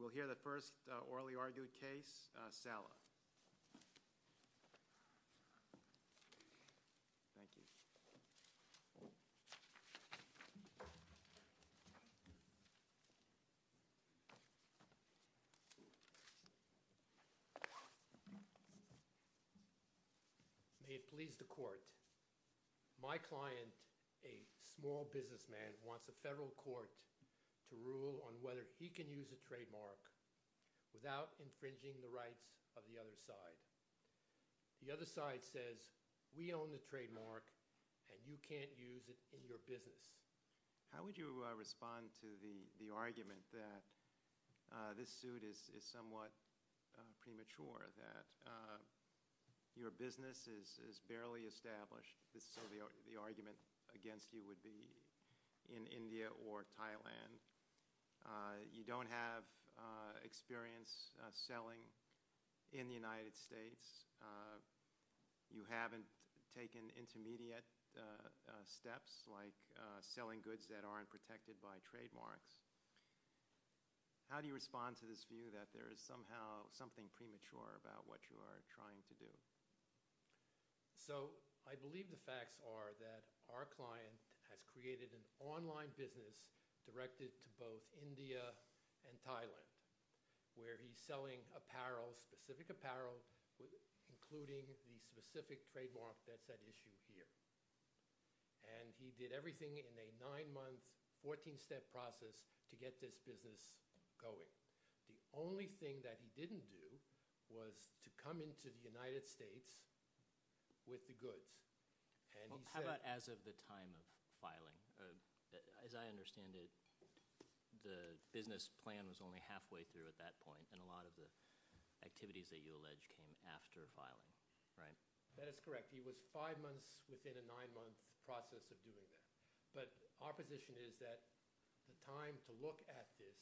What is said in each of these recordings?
We'll hear the first orally argued case, Salah. Thank you. May it please the court. My client, a small businessman, wants a federal court to rule on whether he can use a trademark without infringing the rights of the other side. The other side says, we own the trademark and you can't use it in your business. How would you respond to the argument that this suit is somewhat premature, that your business is barely established? This is sort of the argument against you would be in India or Thailand. You don't have experience selling in the United States. You haven't taken intermediate steps like selling goods that aren't protected by trademarks. How do you respond to this view that there is somehow something premature about what you are trying to do? So I believe the facts are that our client has created an online business directed to both India and Thailand where he's selling apparel, specific apparel, including the specific trademark that's at issue here. And he did everything in a nine-month, 14-step process to get this business going. The only thing that he didn't do was to come into the United States with the goods. And he said- How about as of the time of filing? As I understand it, the business plan was only halfway through at that point and a lot of the activities that you allege came after filing, right? That is correct. He was five months within a nine-month process of doing that. But our position is that the time to look at this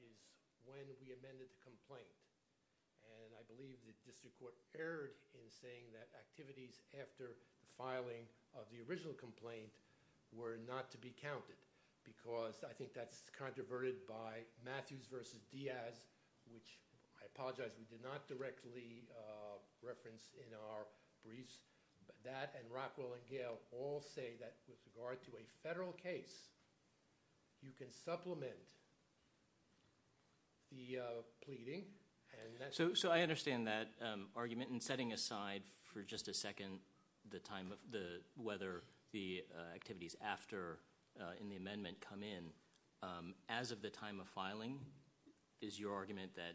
is when we amended the complaint. And I believe the district court erred in saying that activities after the filing of the original complaint were not to be counted because I think that's controverted by Matthews versus Diaz, which I apologize, we did not directly reference in our briefs, but that and Rockwell and Gale all say that with regard to a federal case, you can supplement the pleading and that's- So I understand that argument and setting aside for just a second, the time of the, whether the activities after in the amendment come in, as of the time of filing, is your argument that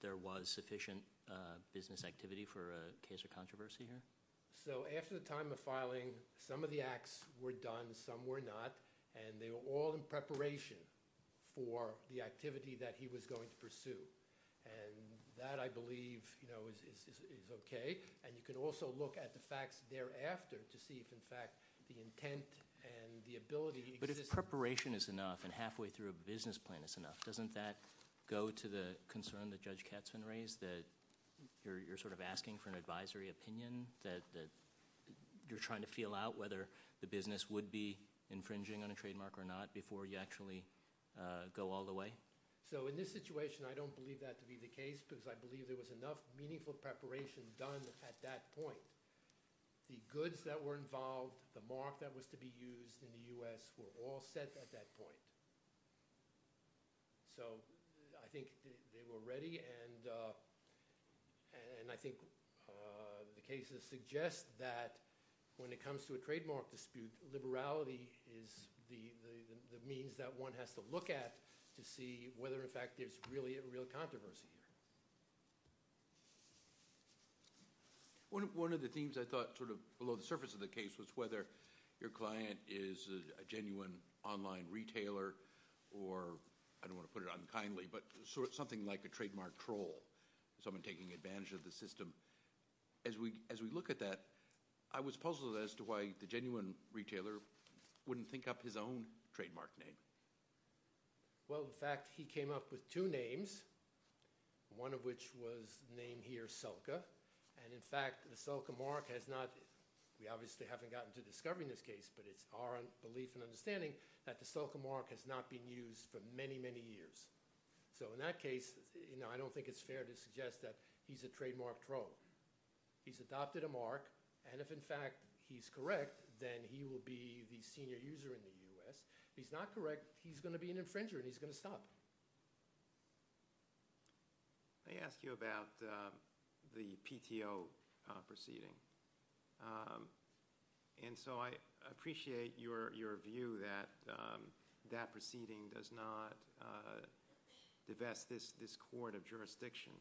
there was sufficient business activity for a case of controversy here? So after the time of filing, some of the acts were done, some were not. And they were all in preparation for the activity that he was going to pursue. And that, I believe, is okay. And you can also look at the facts thereafter to see if, in fact, the intent and the ability- But if the preparation is enough and halfway through a business plan is enough, doesn't that go to the concern that Judge Katzman raised that you're sort of asking for an advisory opinion that you're trying to feel out whether the business would be infringing on a trademark or not before you actually go all the way? So in this situation, I don't believe that to be the case because I believe there was enough meaningful preparation done at that point. The goods that were involved, the mark that was to be used in the U.S. were all set at that point. So I think they were ready and I think the cases suggest that when it comes to a trademark dispute, liberality is the means that one has to look at to see whether, in fact, there's really a real controversy here. One of the themes I thought sort of below the surface of the case was whether your client is a genuine online retailer or, I don't want to put it unkindly, but something like a trademark troll, someone taking advantage of the system. As we look at that, I was puzzled as to why the genuine retailer wouldn't think up his own trademark name. Well, in fact, he came up with two names, one of which was named here Selka. And in fact, the Selka mark has not, we obviously haven't gotten to discovering this case, but it's our belief and understanding that the Selka mark has not been used for many, many years. So in that case, I don't think it's fair to suggest that he's a trademark troll. He's adopted a mark, and if, in fact, he's correct, then he will be the senior user in the US. If he's not correct, he's gonna be an infringer and he's gonna stop. I asked you about the PTO proceeding. And so I appreciate your view that that proceeding does not divest this court of jurisdiction.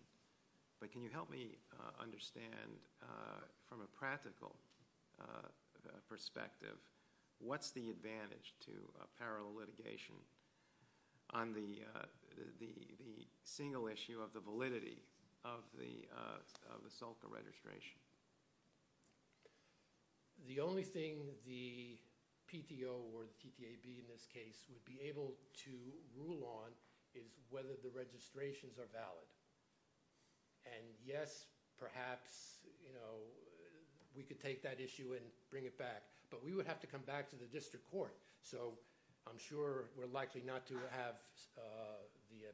But can you help me understand, from a practical perspective, what's the advantage to a parallel litigation on the single issue of the validity of the Selka registration? The only thing the PTO or the TTAB in this case would be able to rule on is whether the registrations are valid. And yes, perhaps we could take that issue and bring it back, but we would have to come back to the district court. So I'm sure we're likely not to have the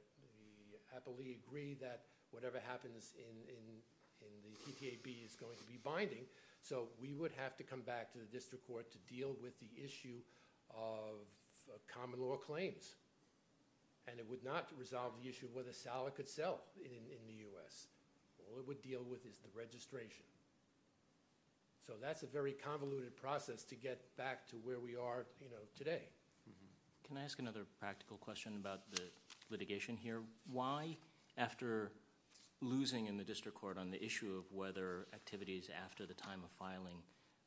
happily agree that whatever happens in the TTAB is going to be binding. So we would have to come back to the district court to deal with the issue of common law claims. And it would not resolve the issue of whether Sala could sell in the US. All it would deal with is the registration. So that's a very convoluted process to get back to where we are today. Can I ask another practical question about the litigation here? Why, after losing in the district court on the issue of whether activities after the time of filing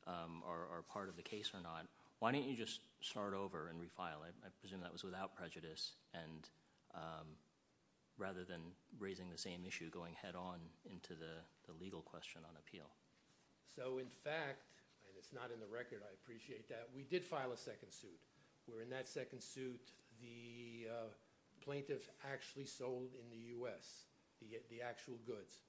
are part of the case or not, why don't you just start over and refile it? I presume that was without prejudice and rather than raising the same issue, going head on into the legal question on appeal. So in fact, and it's not in the record, I appreciate that, we did file a second suit. We're in that second suit. The plaintiff actually sold in the US the actual goods.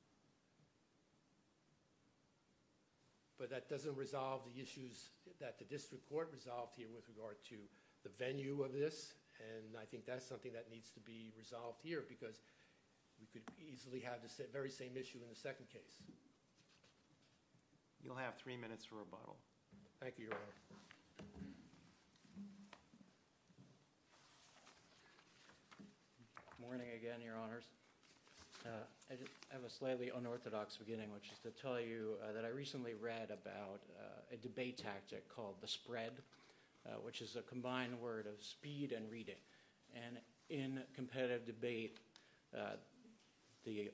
But that doesn't resolve the issues that the district court resolved here with regard to the venue of this. And I think that's something that needs to be resolved here because we could easily have the very same issue in the second case. You'll have three minutes for rebuttal. Thank you, Your Honor. Morning again, Your Honors. I have a slightly unorthodox beginning, which is to tell you that I recently read about a debate tactic called the spread, which is a combined word of speed and reading. And in competitive debate, the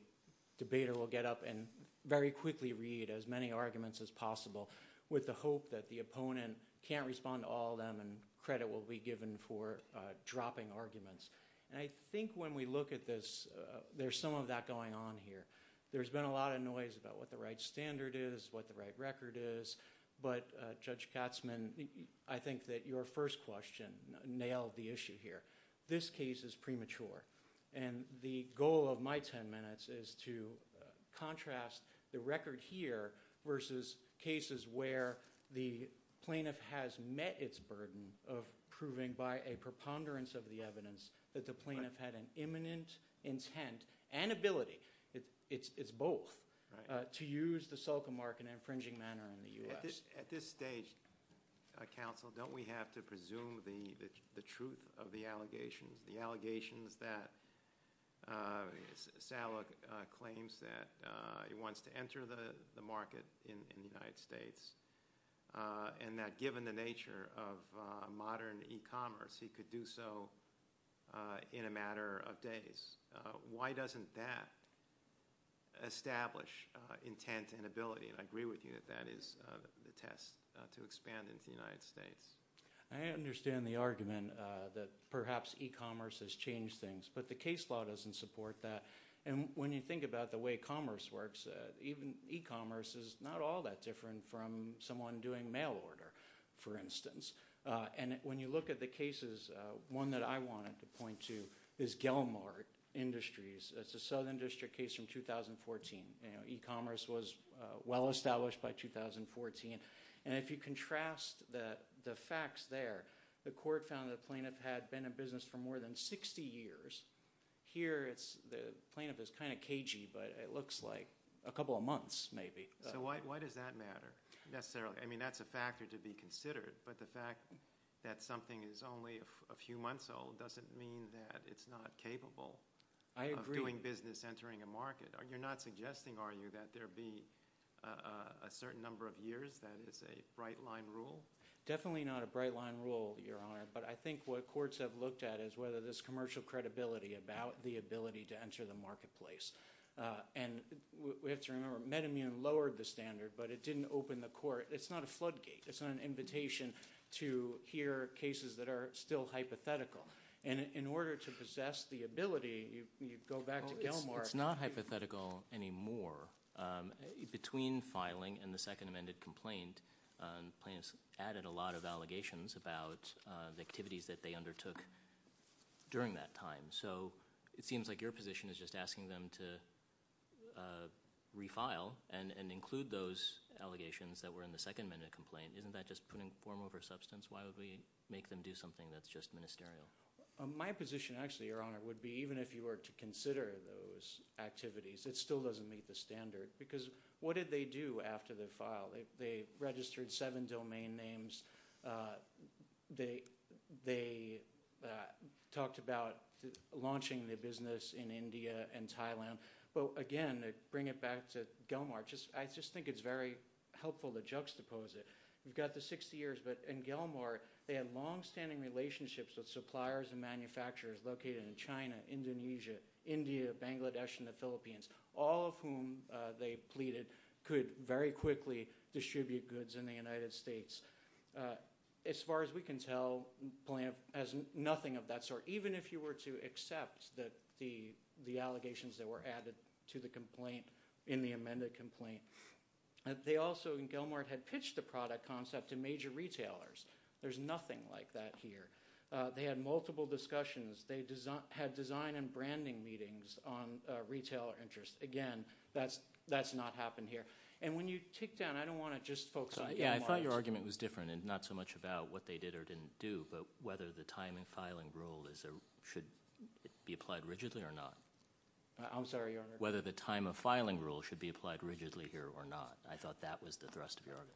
debater will get up and very quickly read as many arguments as possible with the hope that the opponent can't respond to all of them and credit will be given for dropping arguments. And I think when we look at this, there's some of that going on here. There's been a lot of noise about what the right standard is, what the right record is, but Judge Katzmann, I think that your first question nailed the issue here. This case is premature. And the goal of my 10 minutes is to contrast the record here versus cases where the plaintiff has met its burden of proving by a preponderance of the evidence that the plaintiff had an imminent intent and ability, it's both, to use the SOCA mark in an infringing manner in the US. At this stage, counsel, don't we have to presume the truth of the allegations, the allegations that Salek claims that he wants to enter the market in the United States and that given the nature of modern e-commerce, he could do so in a matter of days. Why doesn't that establish intent and ability? And I agree with you that that is the test to expand into the United States. I understand the argument that perhaps e-commerce has changed things, but the case law doesn't support that. And when you think about the way commerce works, even e-commerce is not all that different from someone doing mail order, for instance. And when you look at the cases, one that I wanted to point to is Gelmart Industries. It's a Southern District case from 2014. E-commerce was well-established by 2014. And if you contrast the facts there, the court found that the plaintiff had been in business for more than 60 years. Here, the plaintiff is kind of cagey, but it looks like a couple of months, maybe. So why does that matter, necessarily? I mean, that's a factor to be considered, but the fact that something is only a few months old doesn't mean that it's not capable of doing business, entering a market. You're not suggesting, are you, that there be a certain number of years? That is a bright-line rule? Definitely not a bright-line rule, Your Honor, but I think what courts have looked at is whether there's commercial credibility about the ability to enter the marketplace. And we have to remember, MedImmune lowered the standard, but it didn't open the court. It's not a floodgate. It's not an invitation to hear cases that are still hypothetical. And in order to possess the ability, you go back to Gilmore. It's not hypothetical anymore. Between filing and the Second Amended Complaint, plaintiffs added a lot of allegations about the activities that they undertook during that time. So it seems like your position is just asking them to refile and include those allegations that were in the Second Amended Complaint. Isn't that just putting form over substance? Why would we make them do something that's just ministerial? My position, actually, Your Honor, would be even if you were to consider those activities, it still doesn't meet the standard, because what did they do after they filed? They registered seven domain names. They talked about launching the business in India and Thailand. But again, to bring it back to Gilmore, I just think it's very helpful to juxtapose it. You've got the 60 years, but in Gilmore, they had longstanding relationships with suppliers and manufacturers located in China, Indonesia, India, Bangladesh, and the Philippines, all of whom, they pleaded, could very quickly distribute goods in the United States. As far as we can tell, plaintiff has nothing of that sort. Even if you were to accept the allegations that were added to the complaint in the amended complaint. They also, in Gilmore, had pitched the product concept to major retailers. There's nothing like that here. They had multiple discussions. They had design and branding meetings on retailer interests. Again, that's not happened here. And when you take down, I don't wanna just focus on Gilmore. Yeah, I thought your argument was different, and not so much about what they did or didn't do, but whether the time and filing rule should be applied rigidly or not. I'm sorry, Your Honor. Whether the time and filing rule should be applied rigidly here or not. I thought that was the thrust of your argument.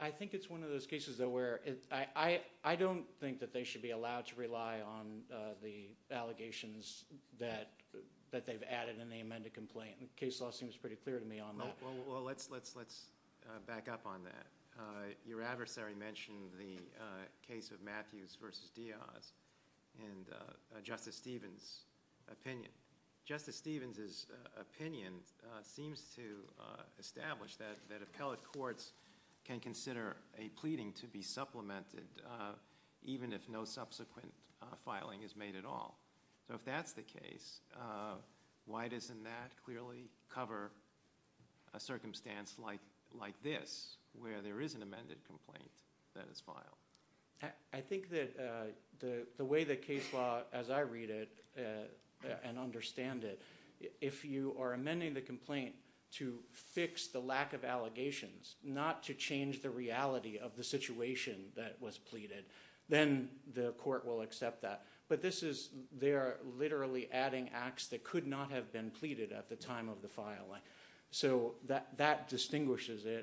I think it's one of those cases, though, where I don't think that they should be allowed to rely on the allegations that they've added in the amended complaint. The case law seems pretty clear to me on that. Well, let's back up on that. Your adversary mentioned the case of Matthews versus Diaz, and Justice Stevens' opinion. Justice Stevens' opinion seems to establish that appellate courts can consider a pleading to be supplemented, even if no subsequent filing is made at all. So if that's the case, why doesn't that clearly cover a circumstance like this, where there is an amended complaint that is filed? I think that the way that case law, as I read it and understand it, if you are amending the complaint to fix the lack of allegations, not to change the reality of the situation that was pleaded, then the court will accept that. But this is, they are literally adding acts that could not have been pleaded at the time of the filing.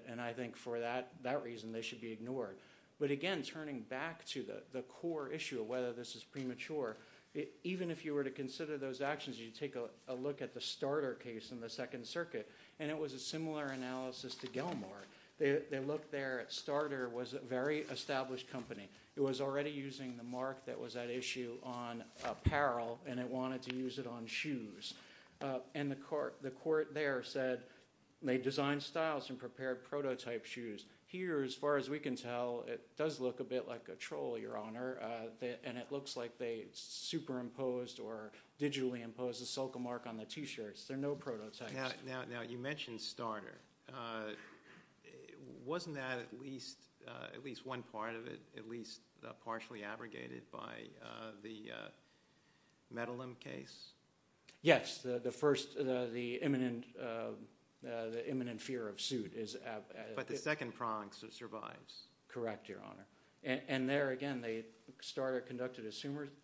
and I think for that reason, they should be ignored. But again, turning back to the core issue of whether this is premature, even if you were to consider those actions, you take a look at the Starter case in the Second Circuit, and it was a similar analysis to Gell-Mar. They looked there at Starter was a very established company. It was already using the mark that was at issue on apparel, and it wanted to use it on shoes. And the court there said, they designed styles and prepared prototype shoes. Here, as far as we can tell, it does look a bit like a troll, Your Honor, and it looks like they superimposed or digitally imposed a silica mark on the t-shirts. There are no prototypes. Now, you mentioned Starter. Wasn't that at least one part of it, at least partially abrogated by the Medellin case? Yes, the first, the imminent fear of suit is- But the second prong survives. Correct, Your Honor. And there, again, they started, conducted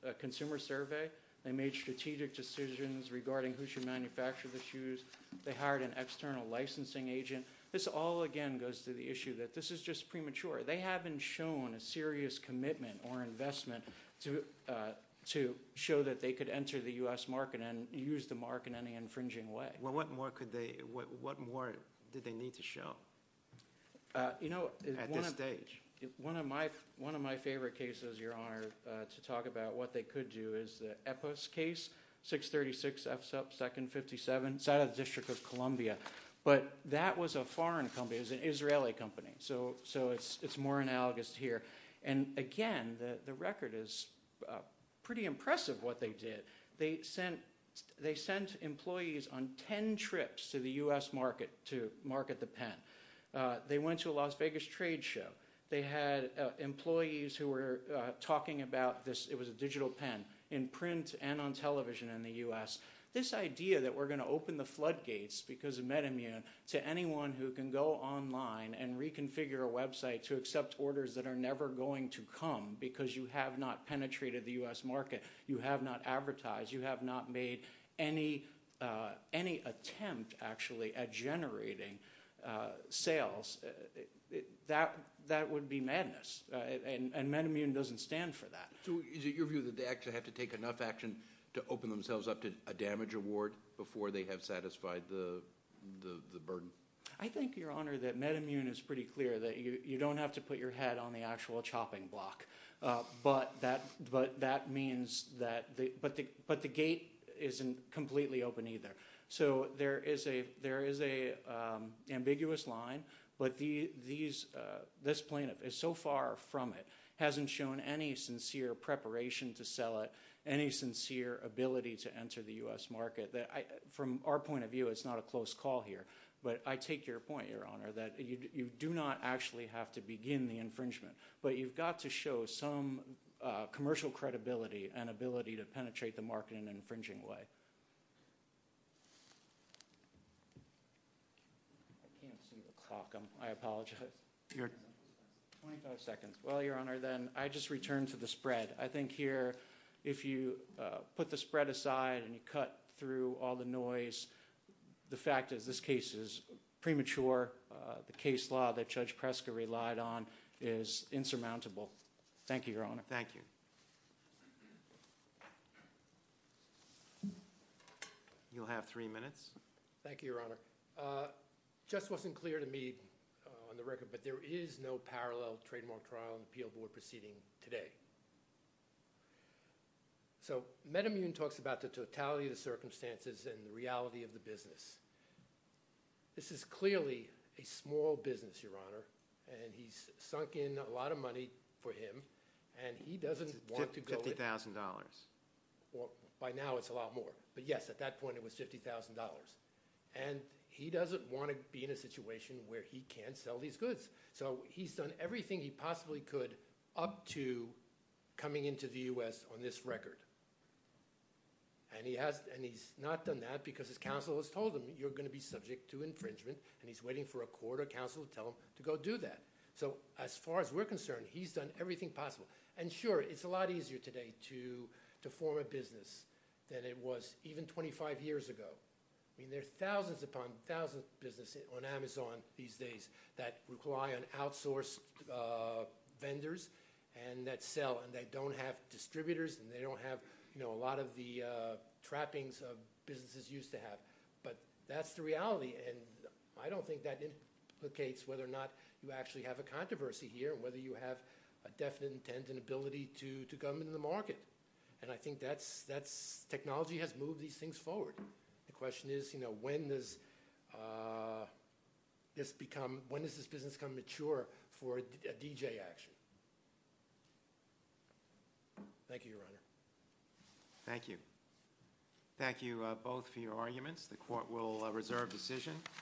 a consumer survey. They made strategic decisions regarding who should manufacture the shoes. They hired an external licensing agent. This all, again, goes to the issue that this is just premature. They haven't shown a serious commitment or investment to show that they could enter the U.S. market and use the mark in any infringing way. Well, what more could they, what more did they need to show at this stage? One of my favorite cases, Your Honor, to talk about what they could do is the Epos case, 636F2nd57, side of the District of Columbia. But that was a foreign company, it was an Israeli company, so it's more analogous to here. And again, the record is pretty impressive what they did. They sent employees on 10 trips to the U.S. market to market the pen. They went to a Las Vegas trade show. They had employees who were talking about this, it was a digital pen, in print and on television in the U.S. This idea that we're gonna open the floodgates because of MedImmune to anyone who can go online and reconfigure a website to accept orders that are never going to come because you have not penetrated the U.S. market, you have not advertised, you have not made any attempt actually at generating sales, that would be madness. And MedImmune doesn't stand for that. So is it your view that they actually have to take enough action to open themselves up to a damage award before they have satisfied the burden? I think, Your Honor, that MedImmune is pretty clear that you don't have to put your head on the actual chopping block. But that means that... But the gate isn't completely open either. So there is a ambiguous line, but this plaintiff is so far from it, hasn't shown any sincere preparation to sell it, any sincere ability to enter the U.S. market. From our point of view, it's not a close call here. But I take your point, Your Honor, that you do not actually have to begin the infringement, but you've got to show some commercial credibility and ability to penetrate the market in an infringing way. I can't see the clock. I apologize. Your 25 seconds. Well, Your Honor, then I just returned to the spread. I think here, if you put the spread aside and you cut through all the noise, the fact is this case is premature. The case law that Judge Preska relied on is insurmountable. Thank you, Your Honor. Thank you. You'll have three minutes. Thank you, Your Honor. Just wasn't clear to me on the record, but there is no parallel trademark trial and appeal board proceeding today. So Metamune talks about the totality of the circumstances and the reality of the business. This is clearly a small business, Your Honor, and he's sunk in a lot of money for him, and he doesn't want to go- $50,000. By now, it's a lot more. But yes, at that point, it was $50,000. And he doesn't want to be in a situation where he can't sell these goods. So he's done everything he possibly could up to coming into the U.S. on this record. And he's not done that because his counsel has told him, you're gonna be subject to infringement, and he's waiting for a court or counsel to tell him to go do that. So as far as we're concerned, he's done everything possible. And sure, it's a lot easier today to form a business than it was even 25 years ago. I mean, there are thousands upon thousands of businesses on Amazon these days that rely on outsourced vendors and that sell, and they don't have distributors, and they don't have a lot of the trappings of businesses used to have. But that's the reality, and I don't think that implicates whether or not you actually have a controversy here and whether you have a definite intent and ability to come into the market. And I think that's, technology has moved these things forward. The question is, you know, when does this become, when does this business become mature for a DJ action? Thank you, Your Honor. Thank you. Thank you both for your arguments. The court will reserve decision.